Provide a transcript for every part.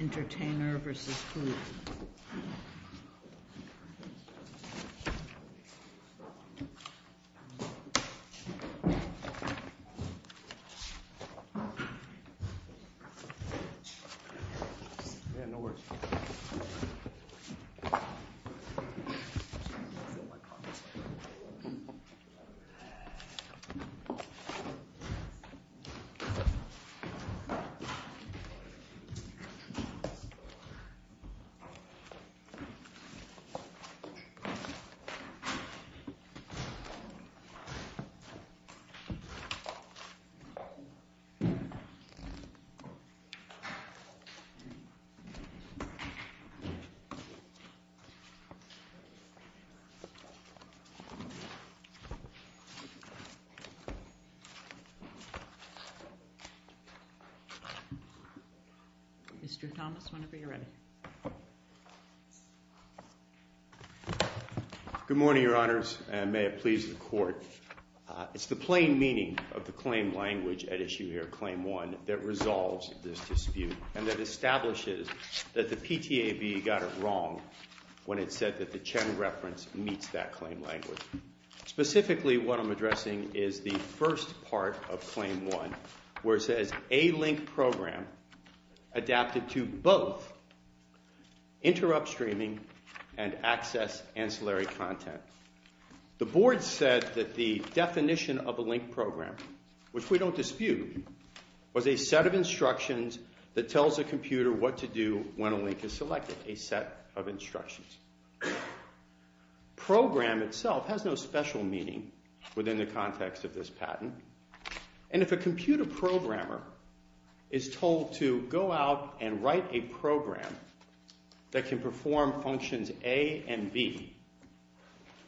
Entertainer v. Hulu Mr. Thomas, whenever you're ready. Good morning, Your Honors, and may it please the Court. It's the plain meaning of the claim language at issue here, Claim 1, that resolves this dispute and that establishes that the PTAB got it wrong when it said that the Chen reference meets that claim language. Specifically, what I'm addressing is the first part of Claim 1 where it says, A link program adapted to both interrupt streaming and access ancillary content. The Board said that the definition of a link program, which we don't dispute, was a set of instructions that tells a computer what to do when a link is selected. A set of instructions. Program itself has no special meaning within the context of this patent. And if a computer programmer is told to go out and write a program that can perform functions A and B,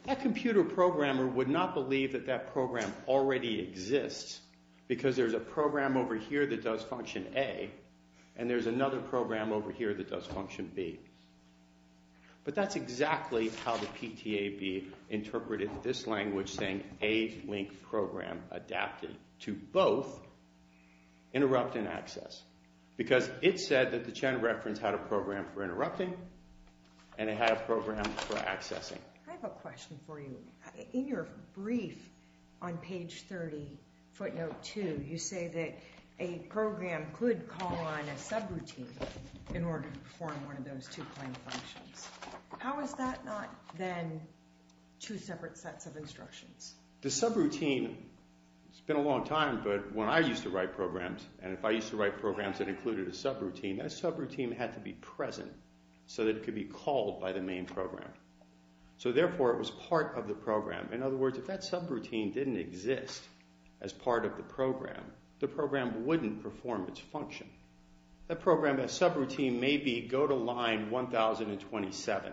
that computer programmer would not believe that that program already exists because there's a program over here that does function A and there's another program over here that does function B. But that's exactly how the PTAB interpreted this language saying A link program adapted to both interrupt and access. Because it said that the Chen reference had a program for interrupting and it had a program for accessing. I have a question for you. In your brief on page 30, footnote 2, you say that a program could call on a subroutine in order to perform one of those two claim functions. How is that not then two separate sets of instructions? The subroutine, it's been a long time, but when I used to write programs, and if I used to write programs that included a subroutine, that subroutine had to be present so that it could be called by the main program. So therefore, it was part of the program. In other words, if that subroutine didn't exist as part of the program, the program wouldn't perform its function. That program, that subroutine may be go to line 1027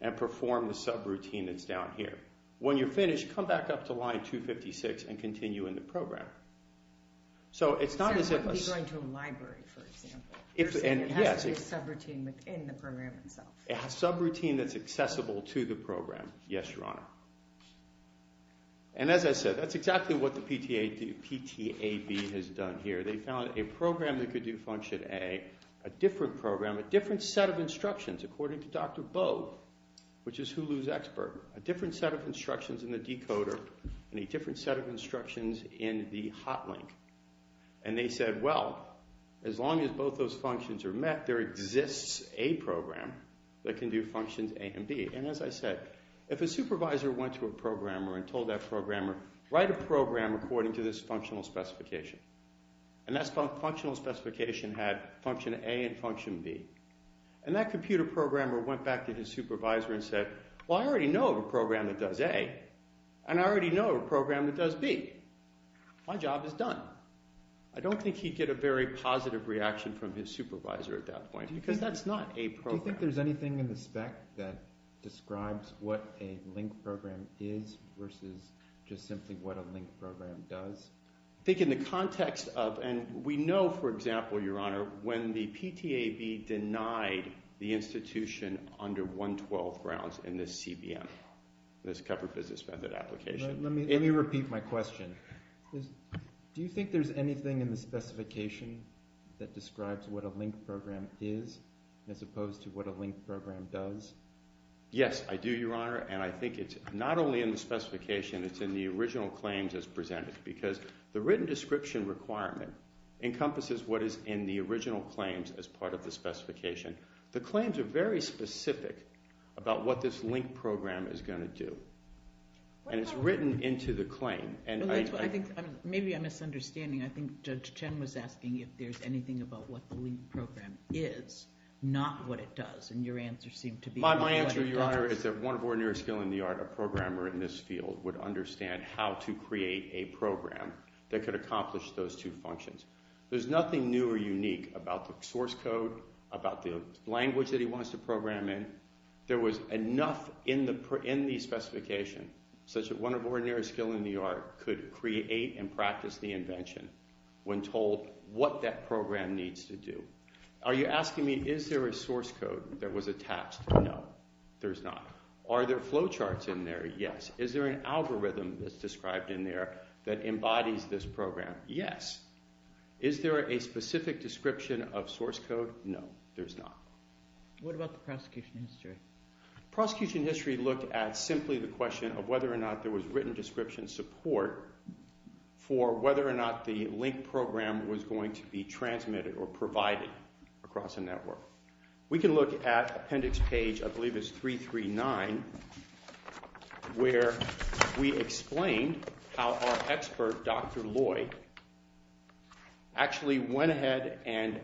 and perform the subroutine that's down here. When you're finished, come back up to line 256 and continue in the program. So it's not as if a… So it could be going to a library, for example. Yes. It has to be a subroutine within the program itself. A subroutine that's accessible to the program. Yes, Your Honor. And as I said, that's exactly what the PTAB has done here. They found a program that could do function A, a different program, a different set of instructions according to Dr. Bo, which is Hulu's expert, a different set of instructions in the decoder, and a different set of instructions in the hotlink. And they said, well, as long as both those functions are met, there exists a program that can do functions A and B. And as I said, if a supervisor went to a programmer and told that programmer, write a program according to this functional specification, and that functional specification had function A and function B, and that computer programmer went back to his supervisor and said, well, I already know of a program that does A, and I already know of a program that does B. My job is done. I don't think he'd get a very positive reaction from his supervisor at that point because that's not a program. Do you think there's anything in the spec that describes what a link program is versus just simply what a link program does? I think in the context of, and we know, for example, Your Honor, when the PTAB denied the institution under 112 grounds in this CBM, this covered business method application. Let me repeat my question. Do you think there's anything in the specification that describes what a link program is as opposed to what a link program does? Yes, I do, Your Honor, and I think it's not only in the specification. It's in the original claims as presented because the written description requirement encompasses what is in the original claims as part of the specification. The claims are very specific about what this link program is going to do. And it's written into the claim. Maybe I'm misunderstanding. I think Judge Chen was asking if there's anything about what the link program is, not what it does, and your answer seemed to be that it does. My answer, Your Honor, is that one of our nearest skill in the art of a programmer in this field would understand how to create a program that could accomplish those two functions. There's nothing new or unique about the source code, about the language that he wants to program in. There was enough in the specification such that one of our nearest skill in the art could create and practice the invention when told what that program needs to do. Are you asking me is there a source code that was attached? No, there's not. Are there flow charts in there? Yes. Is there an algorithm that's described in there that embodies this program? Yes. Is there a specific description of source code? No, there's not. What about the prosecution history? Prosecution history looked at simply the question of whether or not there was written description support for whether or not the link program was going to be transmitted or provided across a network. We can look at appendix page, I believe it's 339, where we explain how our expert, Dr. Lloyd, actually went ahead and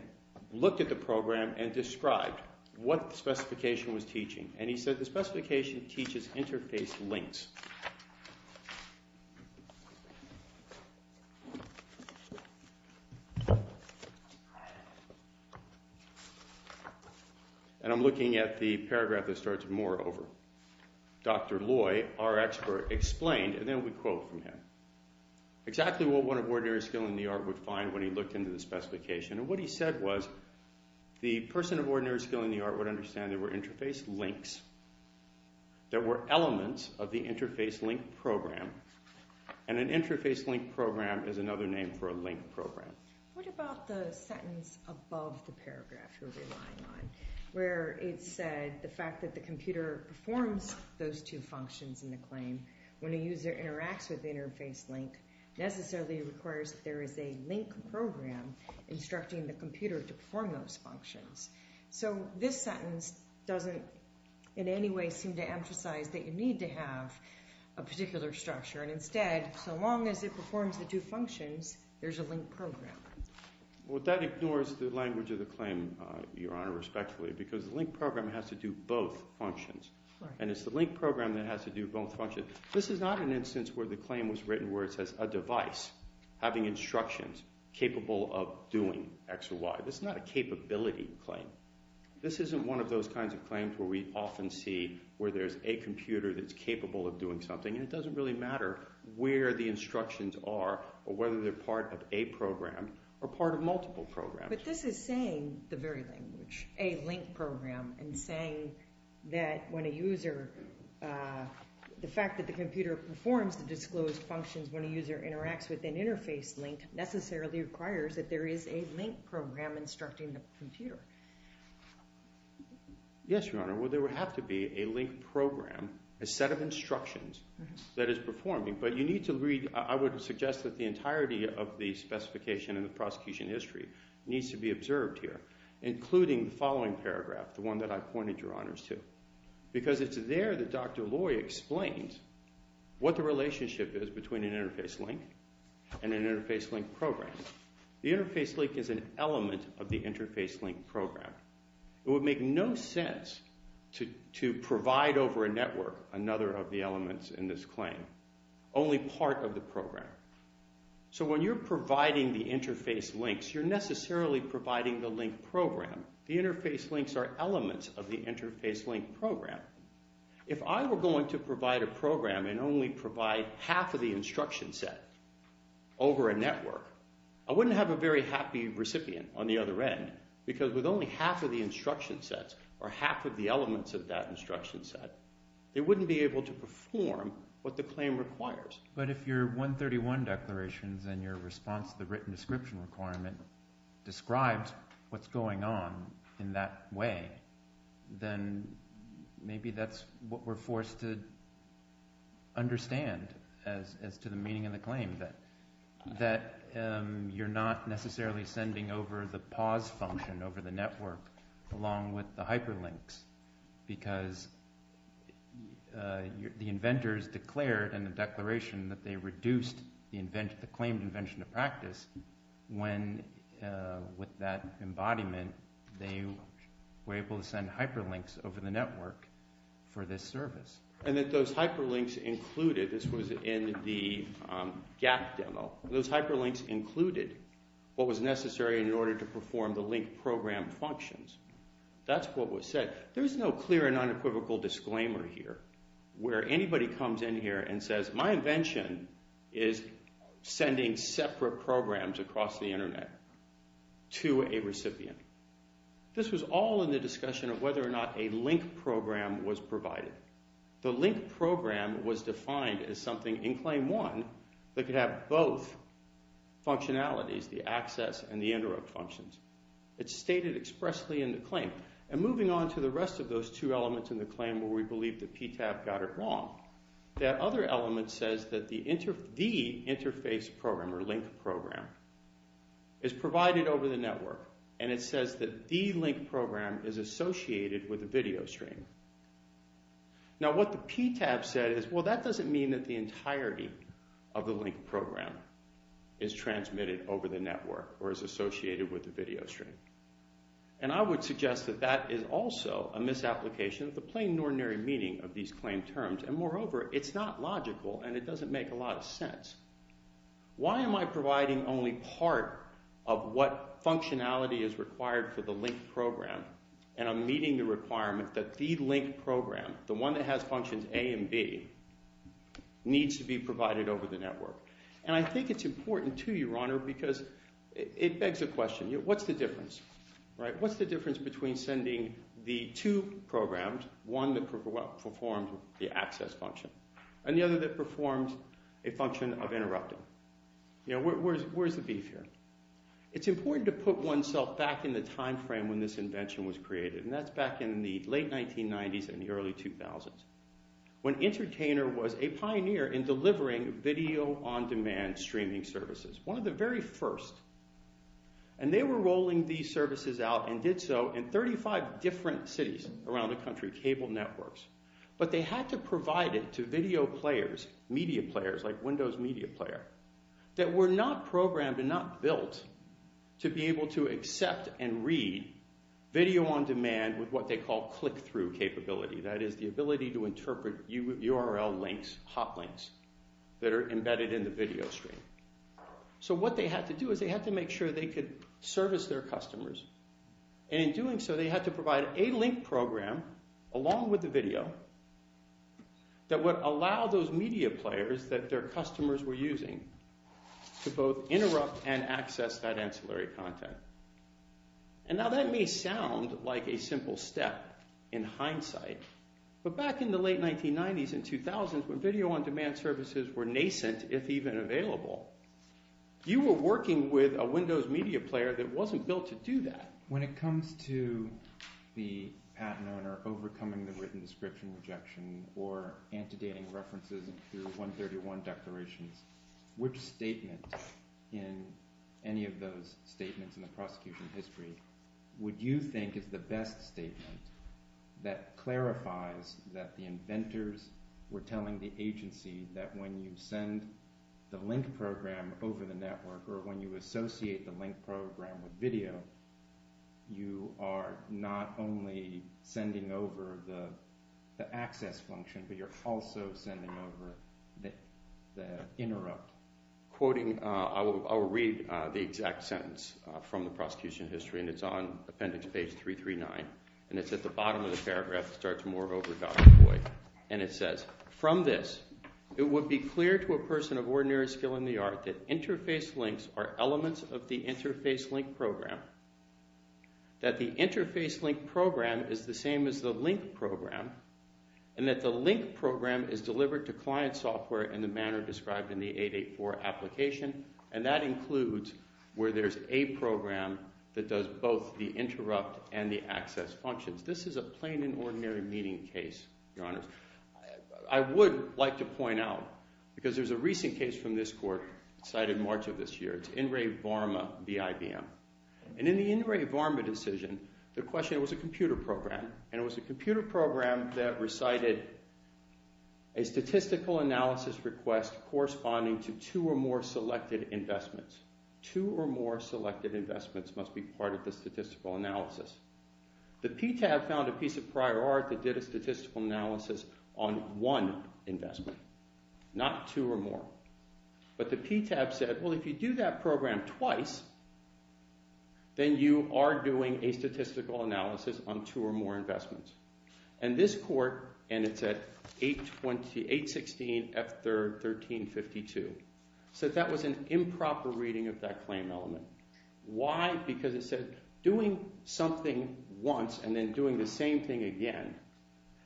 looked at the program and described what the specification was teaching. And he said the specification teaches interface links. And I'm looking at the paragraph that starts with more over. Dr. Lloyd, our expert, explained, and then we quote from him, exactly what one of ordinary skill in the art would find when he looked into the specification. And what he said was the person of ordinary skill in the art would understand there were interface links, there were elements of the interface link program, and an interface link program is another name for a link program. What about the sentence above the paragraph you're relying on, where it said the fact that the computer performs those two functions in the claim when a user interacts with the interface link necessarily requires that there is a link program instructing the computer to perform those functions. So this sentence doesn't in any way seem to emphasize that you need to have a particular structure. And instead, so long as it performs the two functions, there's a link program. Well, that ignores the language of the claim, Your Honor, respectfully, because the link program has to do both functions. And it's the link program that has to do both functions. This is not an instance where the claim was written where it says a device having instructions capable of doing X or Y. This is not a capability claim. This isn't one of those kinds of claims where we often see where there's a computer that's capable of doing something, and it doesn't really matter where the instructions are or whether they're part of a program or part of multiple programs. But this is saying the very language, a link program, and saying that when a user – the fact that the computer performs the disclosed functions when a user interacts with an interface link necessarily requires that there is a link program instructing the computer. Yes, Your Honor. Well, there would have to be a link program, a set of instructions that is performing. But you need to read – I would suggest that the entirety of the specification in the prosecution history needs to be observed here, including the following paragraph, the one that I pointed Your Honors to. Because it's there that Dr. Loy explains what the relationship is between an interface link and an interface link program. The interface link is an element of the interface link program. It would make no sense to provide over a network another of the elements in this claim, only part of the program. So when you're providing the interface links, you're necessarily providing the link program. The interface links are elements of the interface link program. If I were going to provide a program and only provide half of the instruction set over a network, I wouldn't have a very happy recipient on the other end because with only half of the instruction sets or half of the elements of that instruction set, they wouldn't be able to perform what the claim requires. But if your 131 declarations and your response to the written description requirement described what's going on in that way, then maybe that's what we're forced to understand as to the meaning of the claim, that you're not necessarily sending over the pause function over the network along with the hyperlinks because the inventors declared in the declaration that they reduced the claimed invention to practice when with that embodiment they were able to send hyperlinks over the network for this service. And that those hyperlinks included – this was in the GAP demo. Those hyperlinks included what was necessary in order to perform the link program functions. That's what was said. There's no clear and unequivocal disclaimer here where anybody comes in here and says, my invention is sending separate programs across the internet to a recipient. This was all in the discussion of whether or not a link program was provided. The link program was defined as something in Claim 1 that could have both functionalities, the access and the interrupt functions. It's stated expressly in the claim. And moving on to the rest of those two elements in the claim where we believe that PTAB got it wrong, that other element says that the interface program or link program is provided over the network, and it says that the link program is associated with a video stream. Now what the PTAB said is, well, that doesn't mean that the entirety of the link program is transmitted over the network or is associated with a video stream. And I would suggest that that is also a misapplication of the plain and ordinary meaning of these claim terms, and moreover, it's not logical and it doesn't make a lot of sense. Why am I providing only part of what functionality is required for the link program, and I'm meeting the requirement that the link program, the one that has functions A and B, needs to be provided over the network? And I think it's important too, Your Honor, because it begs the question, what's the difference? What's the difference between sending the two programs, one that performs the access function and the other that performs a function of interrupting? Where's the beef here? It's important to put oneself back in the time frame when this invention was created, and that's back in the late 1990s and the early 2000s when Entertainer was a pioneer in delivering video-on-demand streaming services, one of the very first. And they were rolling these services out and did so in 35 different cities around the country, cable networks. But they had to provide it to video players, media players like Windows Media Player, that were not programmed and not built to be able to accept and read video-on-demand with what they call click-through capability. That is the ability to interpret URL links, hot links, that are embedded in the video stream. So what they had to do is they had to make sure they could service their customers, and in doing so they had to provide a link program along with the video that would allow those media players that their customers were using to both interrupt and access that ancillary content. And now that may sound like a simple step in hindsight, but back in the late 1990s and 2000s when video-on-demand services were nascent, if even available, you were working with a Windows Media Player that wasn't built to do that. When it comes to the patent owner overcoming the written description rejection or antedating references through 131 declarations, which statement in any of those statements in the prosecution history would you think is the best statement that clarifies that the inventors were telling the agency that when you send the link program over the network or when you associate the link program with video, you are not only sending over the access function, but you're also sending over the interrupt. I'll read the exact sentence from the prosecution history, and it's on appendix page 339, and it's at the bottom of the paragraph that starts more over Dr. Boyd. And it says, from this, it would be clear to a person of ordinary skill in the art that interface links are elements of the interface link program, that the interface link program is the same as the link program, and that the link program is delivered to client software in the manner described in the 884 application, and that includes where there's a program that does both the interrupt and the access functions. This is a plain and ordinary meeting case, Your Honors. I would like to point out, because there's a recent case from this court cited March of this year. It's In Re Varma v. IBM. And in the In Re Varma decision, the question was a computer program, and it was a computer program that recited a statistical analysis request corresponding to two or more selected investments. Two or more selected investments must be part of the statistical analysis. The PTAB found a piece of prior art that did a statistical analysis on one investment, not two or more. But the PTAB said, well, if you do that program twice, then you are doing a statistical analysis on two or more investments. And this court, and it's at 816 F3rd 1352, said that was an improper reading of that claim element. Why? Because it said doing something once and then doing the same thing again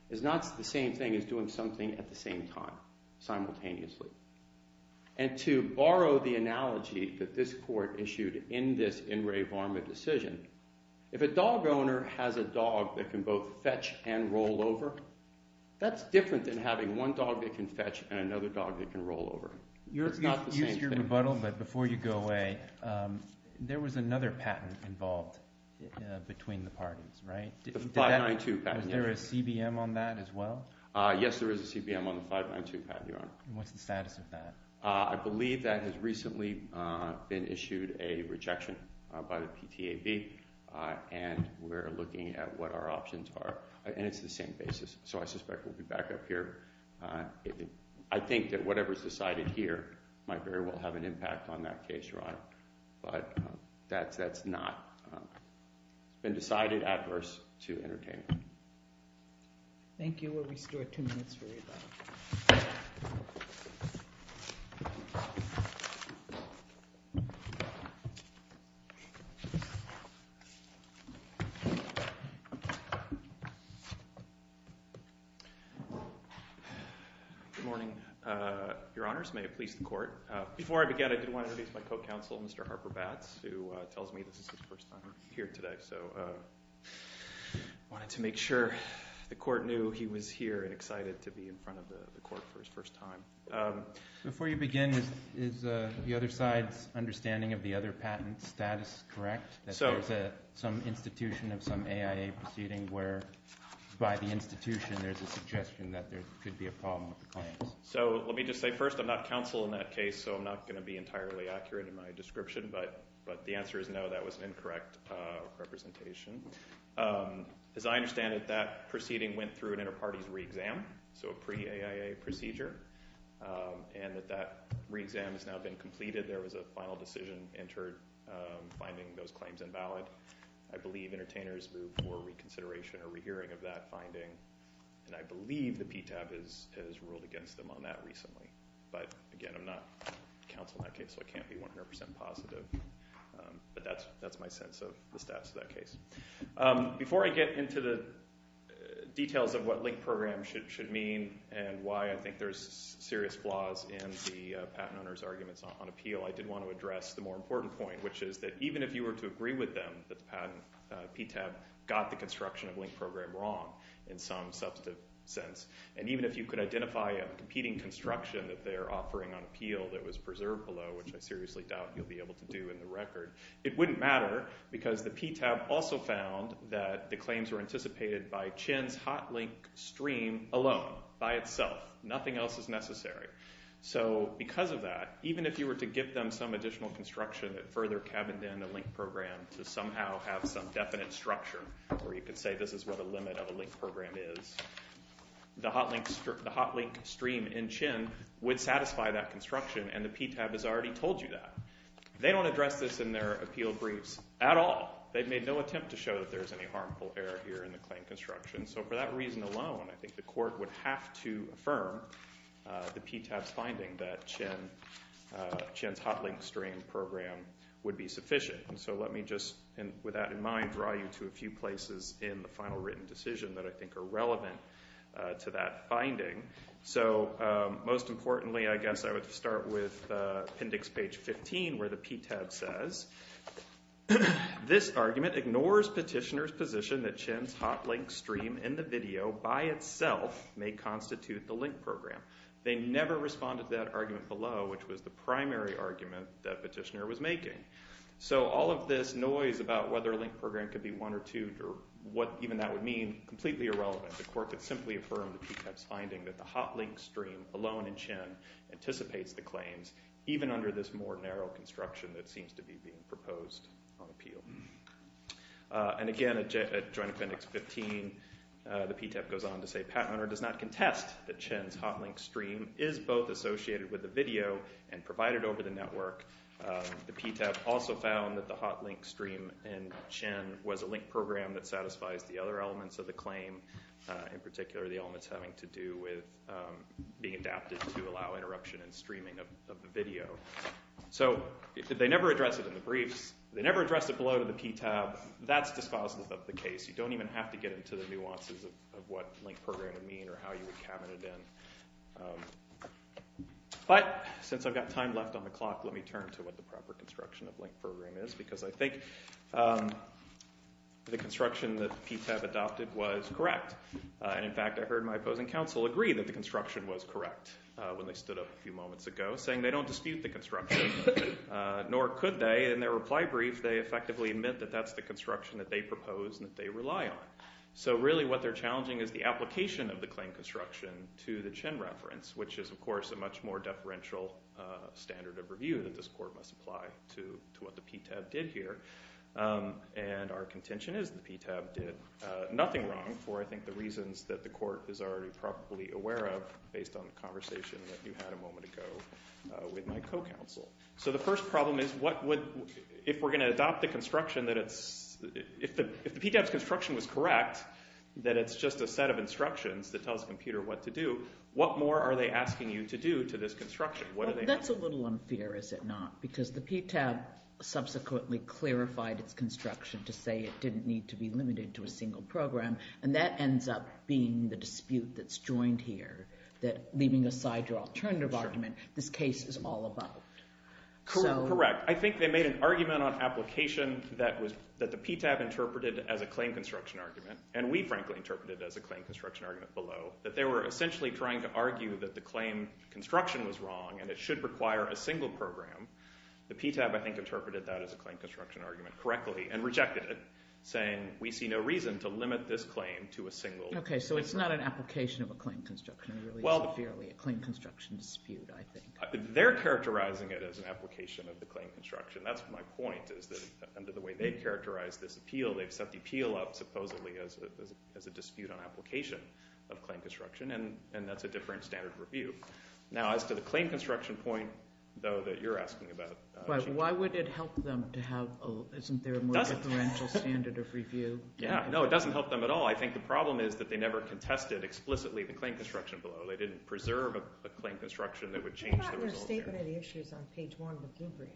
is not the same thing as doing something at the same time simultaneously. And to borrow the analogy that this court issued in this In Re Varma decision, if a dog owner has a dog that can both fetch and roll over, that's different than having one dog that can fetch and another dog that can roll over. It's not the same thing. Use your rebuttal, but before you go away, there was another patent involved between the parties, right? The 592 patent. Was there a CBM on that as well? What's the status of that? I believe that has recently been issued a rejection by the PTAB, and we're looking at what our options are, and it's the same basis. So I suspect we'll be back up here. I think that whatever is decided here might very well have an impact on that case, Ron, but that's not been decided adverse to entertain. Thank you. We still have two minutes for rebuttal. Good morning, Your Honors. May it please the Court. Before I begin, I did want to introduce my co-counsel, Mr. Harper Batts, who tells me this is his first time here today. So I wanted to make sure the Court knew he was here and excited to be in front of the Court for his first time. Before you begin, is the other side's understanding of the other patent status correct, that there's some institution of some AIA proceeding where, by the institution, there's a suggestion that there could be a problem with the claims? So let me just say, first, I'm not counsel in that case, so I'm not going to be entirely accurate in my description, but the answer is no, that was an incorrect representation. As I understand it, that proceeding went through an inter-parties re-exam, so a pre-AIA procedure, and that that re-exam has now been completed. There was a final decision entered finding those claims invalid. I believe entertainers moved for reconsideration or rehearing of that finding, and I believe the PTAB has ruled against them on that recently. But, again, I'm not counsel in that case, so I can't be 100% positive. But that's my sense of the status of that case. Before I get into the details of what linked program should mean and why I think there's serious flaws in the patent owner's arguments on appeal, I did want to address the more important point, which is that even if you were to agree with them that the PTAB got the construction of linked program wrong in some substantive sense, and even if you could identify a competing construction that they're offering on appeal that was preserved below, which I seriously doubt you'll be able to do in the record, it wouldn't matter because the PTAB also found that the claims were anticipated by Chin's hot link stream alone, by itself. Nothing else is necessary. So because of that, even if you were to give them some additional construction that further cabined in the linked program to somehow have some definite structure where you could say this is what a limit of a linked program is, the hot link stream in Chin would satisfy that construction, and the PTAB has already told you that. They don't address this in their appeal briefs at all. They've made no attempt to show that there's any harmful error here in the claim construction. So for that reason alone, I think the court would have to affirm the PTAB's finding that Chin's hot link stream program would be sufficient. So let me just, with that in mind, draw you to a few places in the final written decision that I think are relevant to that finding. So most importantly, I guess I would start with appendix page 15 where the PTAB says, this argument ignores petitioner's position that Chin's hot link stream in the video, by itself, may constitute the linked program. They never responded to that argument below, which was the primary argument that petitioner was making. So all of this noise about whether a linked program could be one or two, or what even that would mean, completely irrelevant. The court could simply affirm the PTAB's finding that the hot link stream alone in Chin anticipates the claims, even under this more narrow construction that seems to be being proposed on appeal. And again, at joint appendix 15, the PTAB goes on to say, patent owner does not contest that Chin's hot link stream is both associated with the video and provided over the network. The PTAB also found that the hot link stream in Chin was a linked program that satisfies the other elements of the claim, in particular the elements having to do with being adapted to allow interruption and streaming of the video. So they never addressed it in the briefs. They never addressed it below to the PTAB. That's dispositive of the case. You don't even have to get into the nuances of what linked program would mean or how you would cabinet it in. But since I've got time left on the clock, let me turn to what the proper construction of linked program is because I think the construction that the PTAB adopted was correct. In fact, I heard my opposing counsel agree that the construction was correct when they stood up a few moments ago, saying they don't dispute the construction, nor could they. In their reply brief, they effectively admit that that's the construction that they propose and that they rely on. So really what they're challenging is the application of the claim construction to the Chin reference, which is, of course, a much more deferential standard of review that this court must apply to what the PTAB did here. And our contention is the PTAB did nothing wrong for, I think, the reasons that the court is already probably aware of based on the conversation that you had a moment ago with my co-counsel. So the first problem is what would – if we're going to adopt the construction that it's – if the PTAB's construction was correct, that it's just a set of instructions that tells the computer what to do, what more are they asking you to do to this construction? What are they – That's a little unfair, is it not? Because the PTAB subsequently clarified its construction to say it didn't need to be limited to a single program, and that ends up being the dispute that's joined here, that leaving aside your alternative argument, this case is all about. Correct. I think they made an argument on application that the PTAB interpreted as a claim construction argument, and we, frankly, interpreted it as a claim construction argument below, that they were essentially trying to argue that the claim construction was wrong and it should require a single program. The PTAB, I think, interpreted that as a claim construction argument correctly and rejected it, saying we see no reason to limit this claim to a single. Okay, so it's not an application of a claim construction. It really is fairly a claim construction dispute, I think. They're characterizing it as an application of the claim construction. That's my point, is that under the way they've characterized this appeal, they've set the appeal up supposedly as a dispute on application of claim construction, and that's a different standard of review. Now, as to the claim construction point, though, that you're asking about. But why would it help them to have a more differential standard of review? Yeah, no, it doesn't help them at all. I think the problem is that they never contested explicitly the claim construction below. They didn't preserve a claim construction that would change the results. I thought in a statement of the issues on page 1 of the Blue Brief,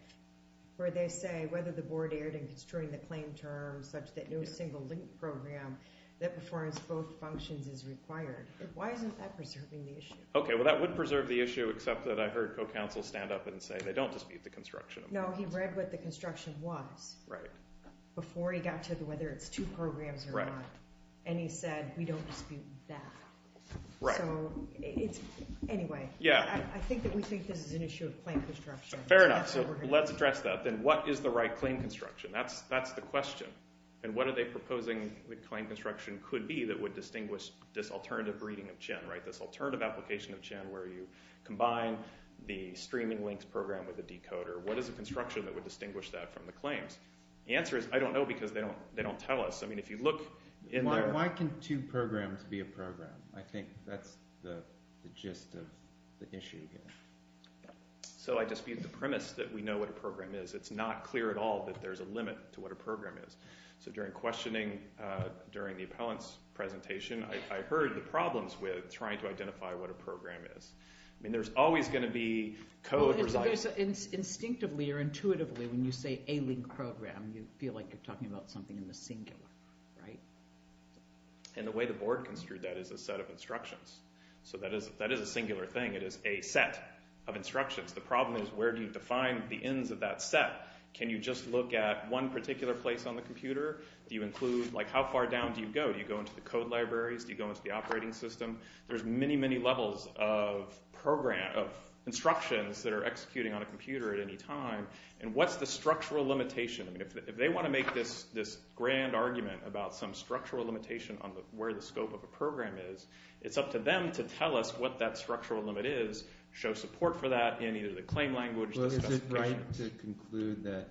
where they say whether the board erred in construing the claim terms such that no single link program that performs both functions is required. Why isn't that preserving the issue? Okay, well, that would preserve the issue except that I heard co-counsel stand up and say they don't dispute the construction. No, he read what the construction was before he got to whether it's two programs or not, and he said we don't dispute that. So anyway, I think that we think this is an issue of claim construction. Fair enough. So let's address that. Then what is the right claim construction? That's the question. And what are they proposing the claim construction could be that would distinguish this alternative reading of CHIN, right, this alternative application of CHIN where you combine the streaming links program with the decoder? What is the construction that would distinguish that from the claims? The answer is I don't know because they don't tell us. I mean, if you look in their – Why can two programs be a program? I think that's the gist of the issue here. So I dispute the premise that we know what a program is. It's not clear at all that there's a limit to what a program is. So during questioning during the appellant's presentation, I heard the problems with trying to identify what a program is. I mean, there's always going to be code – Instinctively or intuitively when you say a link program, you feel like you're talking about something in the singular, right? And the way the board construed that is a set of instructions. So that is a singular thing. It is a set of instructions. The problem is where do you define the ends of that set? Can you just look at one particular place on the computer? Do you include – Like how far down do you go? Do you go into the code libraries? Do you go into the operating system? There's many, many levels of instructions that are executing on a computer at any time. And what's the structural limitation? I mean, if they want to make this grand argument about some structural limitation on where the scope of a program is, it's up to them to tell us what that structural limit is, show support for that in either the claim language – Well, is it right to conclude that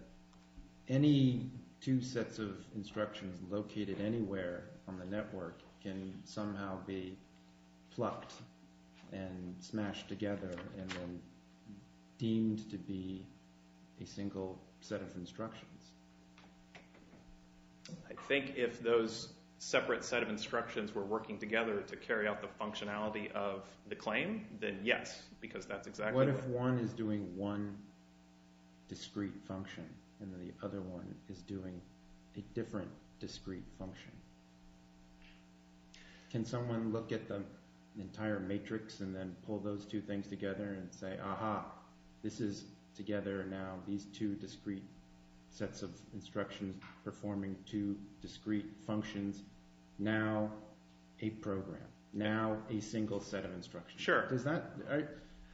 any two sets of instructions located anywhere on the network can somehow be plucked and smashed together and then deemed to be a single set of instructions? I think if those separate set of instructions were working together to make the claim, then yes, because that's exactly – What if one is doing one discrete function and then the other one is doing a different discrete function? Can someone look at the entire matrix and then pull those two things together and say, aha, this is together now these two discrete sets of instructions performing two discrete functions, now a program, now a single set of instructions? Sure. Does that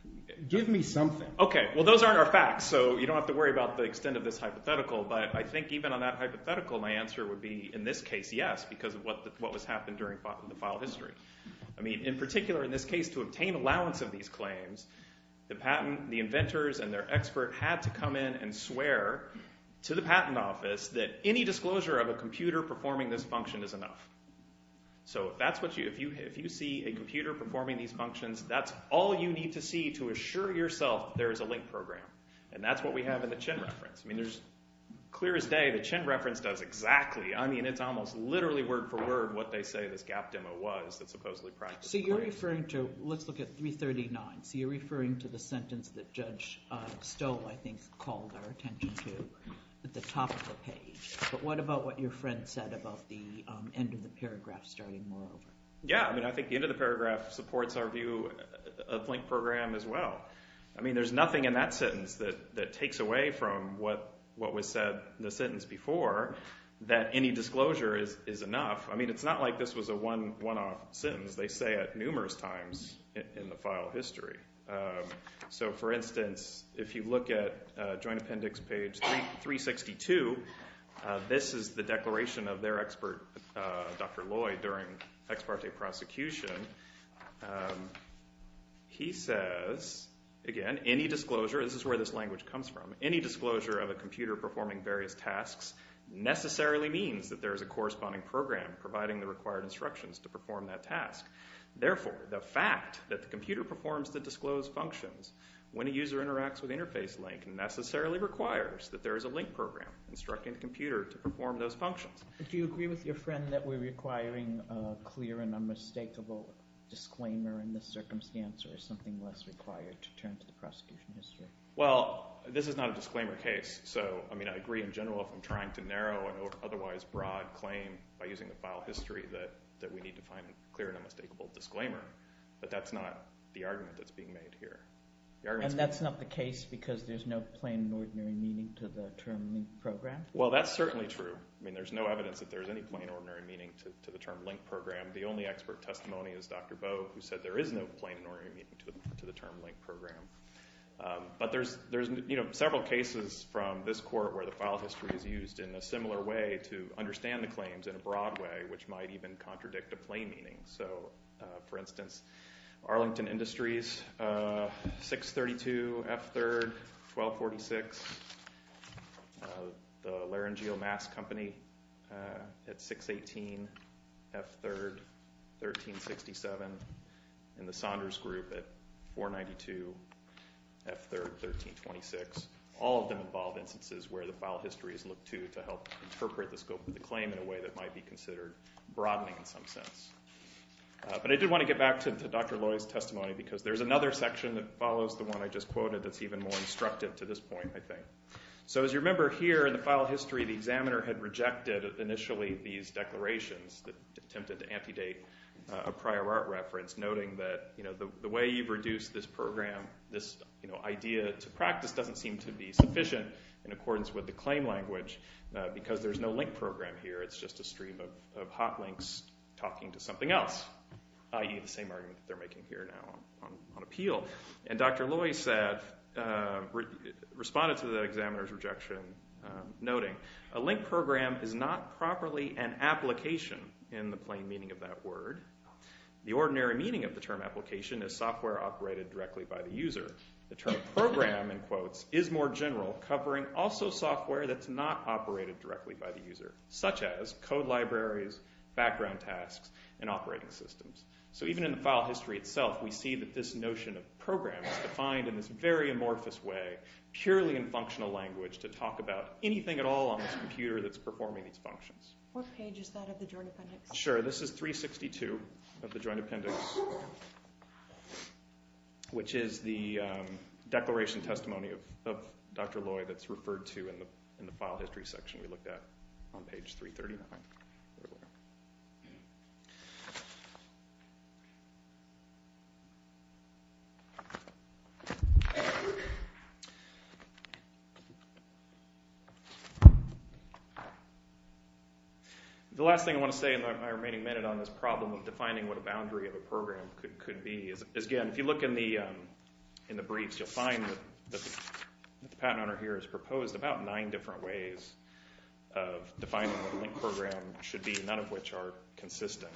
– give me something. Okay. Well, those aren't our facts, so you don't have to worry about the extent of this hypothetical, but I think even on that hypothetical, my answer would be in this case, yes, because of what was happening during the file history. I mean, in particular, in this case, to obtain allowance of these claims, the inventors and their expert had to come in and swear to the patent office that any disclosure of a computer performing this function is enough. So if that's what you – if you see a computer performing these functions, that's all you need to see to assure yourself there is a link program, and that's what we have in the Chin reference. I mean, there's – clear as day, the Chin reference does exactly – I mean, it's almost literally word for word what they say this GAP demo was that supposedly practiced the claims. So you're referring to – let's look at 339. So you're referring to the sentence that Judge Stowe, I think, called our attention to at the top of the page, but what about what your paragraph started more of? Yeah. I mean, I think the end of the paragraph supports our view of link program as well. I mean, there's nothing in that sentence that takes away from what was said in the sentence before that any disclosure is enough. I mean, it's not like this was a one-off sentence. They say it numerous times in the file history. So, for instance, if you look at joint appendix page 362, this is the declaration of their expert, Dr. Lloyd, during ex parte prosecution. He says, again, any disclosure – this is where this language comes from – any disclosure of a computer performing various tasks necessarily means that there is a corresponding program providing the required instructions to perform that task. Therefore, the fact that the computer performs the disclosed functions when a user interacts with interface link necessarily requires that there is a link program instructing the computer to perform those functions. Do you agree with your friend that we're requiring a clear and unmistakable disclaimer in this circumstance or is something less required to turn to the prosecution history? Well, this is not a disclaimer case. So, I mean, I agree in general if I'm trying to narrow an otherwise broad claim by using the file history that we need to find a clear and unmistakable disclaimer, but that's not the argument that's being made here. And that's not the case because there's no plain and ordinary meaning to the term link program? Well, that's certainly true. I mean, there's no evidence that there's any plain and ordinary meaning to the term link program. The only expert testimony is Dr. Boe, who said there is no plain and ordinary meaning to the term link program. But there's several cases from this court where the file history is used in a similar way to understand the claims in a broad way, which might even contradict a plain meaning. So, for instance, Arlington Industries, 632 F3rd 1246, the Laranjeal Mask Company at 618 F3rd 1367, and the Saunders Group at 492 F3rd 1326. All of them involve instances where the file history is looked to to help interpret the scope of the claim in a way that might be considered broadening in some sense. But I did want to get back to Dr. Loy's testimony because there's another section that follows the one I just quoted that's even more instructive to this point, I think. So as you remember here in the file history, the examiner had rejected initially these declarations that attempted to amputate a prior art reference, noting that the way you've reduced this program, this idea to practice doesn't seem to be sufficient in accordance with the claim language because there's no link program here. It's just a stream of hot links talking to something else, i.e. the same argument that they're making here now on appeal. And Dr. Loy responded to the examiner's rejection, noting, a link program is not properly an application in the plain meaning of that word. The ordinary meaning of the term application is software operated directly by the user. The term program, in quotes, is more general, covering also software that's not operated directly by the user, such as code libraries, background tasks, and operating systems. So even in the file history itself, we see that this notion of program is defined in this very amorphous way, purely in functional language, to talk about anything at all on this computer that's performing these functions. What page is that of the joint appendix? Sure, this is 362 of the joint appendix, which is the declaration testimony of Dr. Loy that's referred to in the file history section we looked at on page 339. The last thing I want to say in my remaining minute on this problem of defining what a boundary of a program could be is, again, if you look in the briefs, the patent owner here has proposed about nine different ways of defining what a link program should be, none of which are consistent,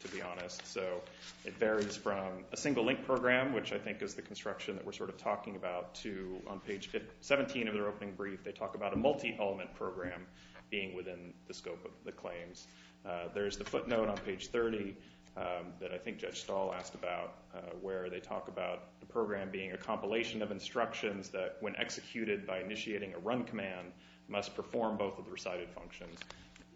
to be honest. So it varies from a single link program, which I think is the construction that we're sort of talking about, to, on page 17 of their opening brief, they talk about a multi-element program being within the scope of the claims. There's the footnote on page 30 that I think Judge Stahl asked about, where they talk about the program being a compilation of instructions that, when executed by initiating a run command, must perform both of the recited functions.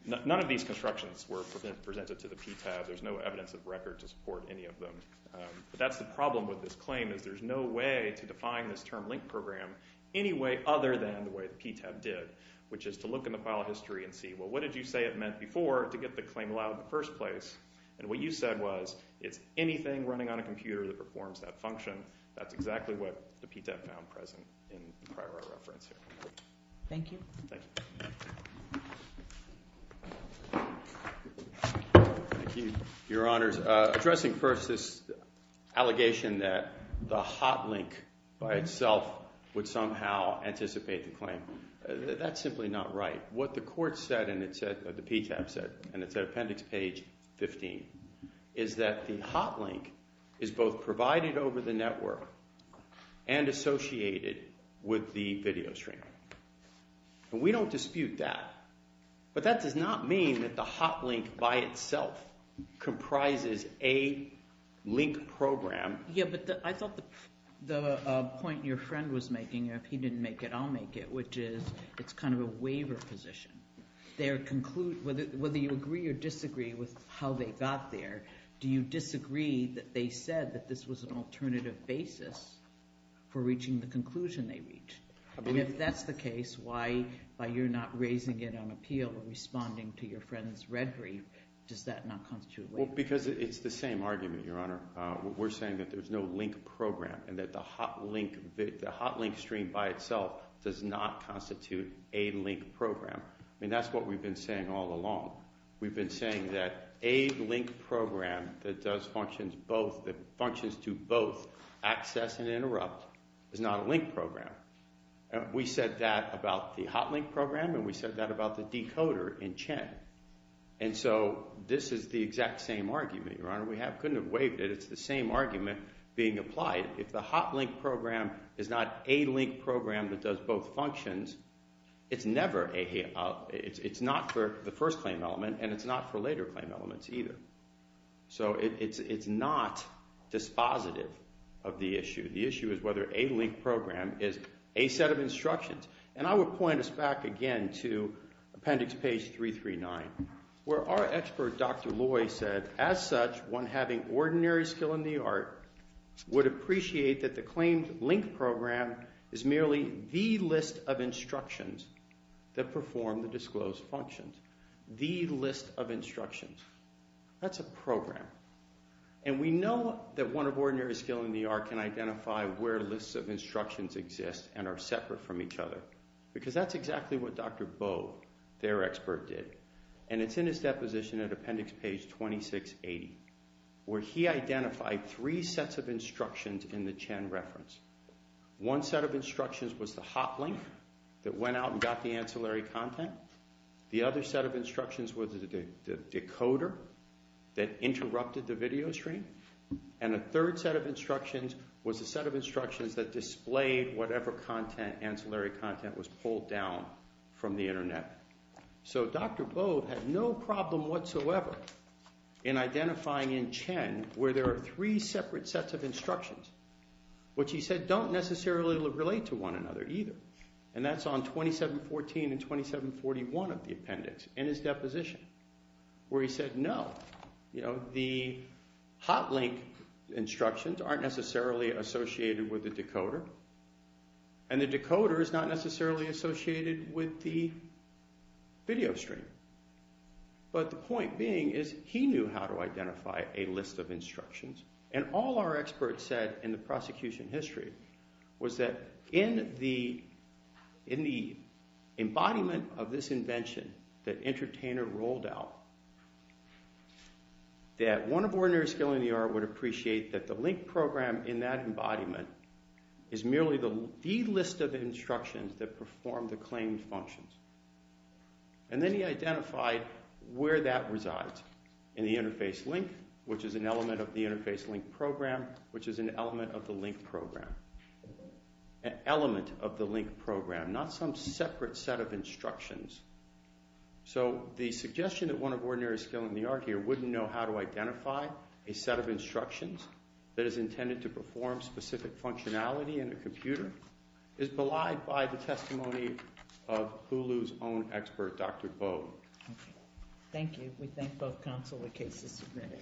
None of these constructions were presented to the PTAB. There's no evidence of record to support any of them. But that's the problem with this claim, is there's no way to define this term link program any way other than the way the PTAB did, which is to look in the file history and see, well, what did you say it meant before to get the claim allowed in the first place? And what you said was, it's anything running on a computer that performs that function. That's exactly what the PTAB found present in the prior reference here. Thank you. Thank you. Thank you, Your Honors. Addressing first this allegation that the hot link by itself would somehow anticipate the claim, that's simply not right. What the court said, and the PTAB said, and it's at appendix page 15, is that the hot link is both provided over the network and associated with the video stream. And we don't dispute that. But that does not mean that the hot link by itself comprises a link program. Yeah, but I thought the point your friend was making, if he didn't make it, I'll make it, which is it's kind of a waiver position. Whether you agree or disagree with how they got there, do you disagree that they said that this was an alternative basis for reaching the conclusion they reached? And if that's the case, why you're not raising it on appeal or responding to your friend's red brief, does that not constitute a waiver? Because it's the same argument, Your Honor. We're saying that there's no link program and that the hot link stream by itself does not constitute a link program. I mean, that's what we've been saying all along. We've been saying that a link program that does functions to both access and interrupt is not a link program. We said that about the hot link program and we said that about the decoder in CHEN. And so this is the exact same argument, Your Honor. We couldn't have waived it. It's the same argument being applied. If the hot link program is not a link program that does both functions, it's not for the first claim element and it's not for later claim elements either. So it's not dispositive of the issue. The issue is whether a link program is a set of instructions. And I would point us back again to Appendix Page 339 where our expert, Dr. Loy, said, as such, one having ordinary skill in the art would appreciate that the claimed link program is merely the list of instructions that perform the disclosed functions. The list of instructions. That's a program. And we know that one of ordinary skill in the art can identify where lists of instructions exist and are separate from each other because that's exactly what Dr. Bo, their expert, did. And it's in his deposition at Appendix Page 2680 where he identified three sets of instructions in the CHEN reference. One set of instructions was the hotlink that went out and got the ancillary content. The other set of instructions was the decoder that interrupted the video stream. And a third set of instructions was the set of instructions that displayed whatever content, ancillary content, was pulled down from the Internet. So Dr. Bo had no problem whatsoever in identifying in CHEN where there are three separate sets of instructions. Which he said don't necessarily relate to one another either. And that's on 2714 and 2741 of the appendix in his deposition where he said no. You know, the hotlink instructions aren't necessarily associated with the decoder. And the decoder is not necessarily associated with the video stream. But the point being is he knew how to identify a list of instructions. And all our experts said in the prosecution history was that in the embodiment of this invention that Entertainer rolled out, that one of ordinary skill in the art would appreciate that the link program in that embodiment is merely the list of instructions that perform the claimed functions. And then he identified where that resides in the interface link, which is an element of the interface link program, which is an element of the link program. An element of the link program, not some separate set of instructions. So the suggestion that one of ordinary skill in the art here wouldn't know how to identify a set of instructions that is intended to perform specific functionality in a computer is belied by the testimony of Hulu's own expert, Dr. Bo. Okay. Thank you. We thank both counsel and cases submitted.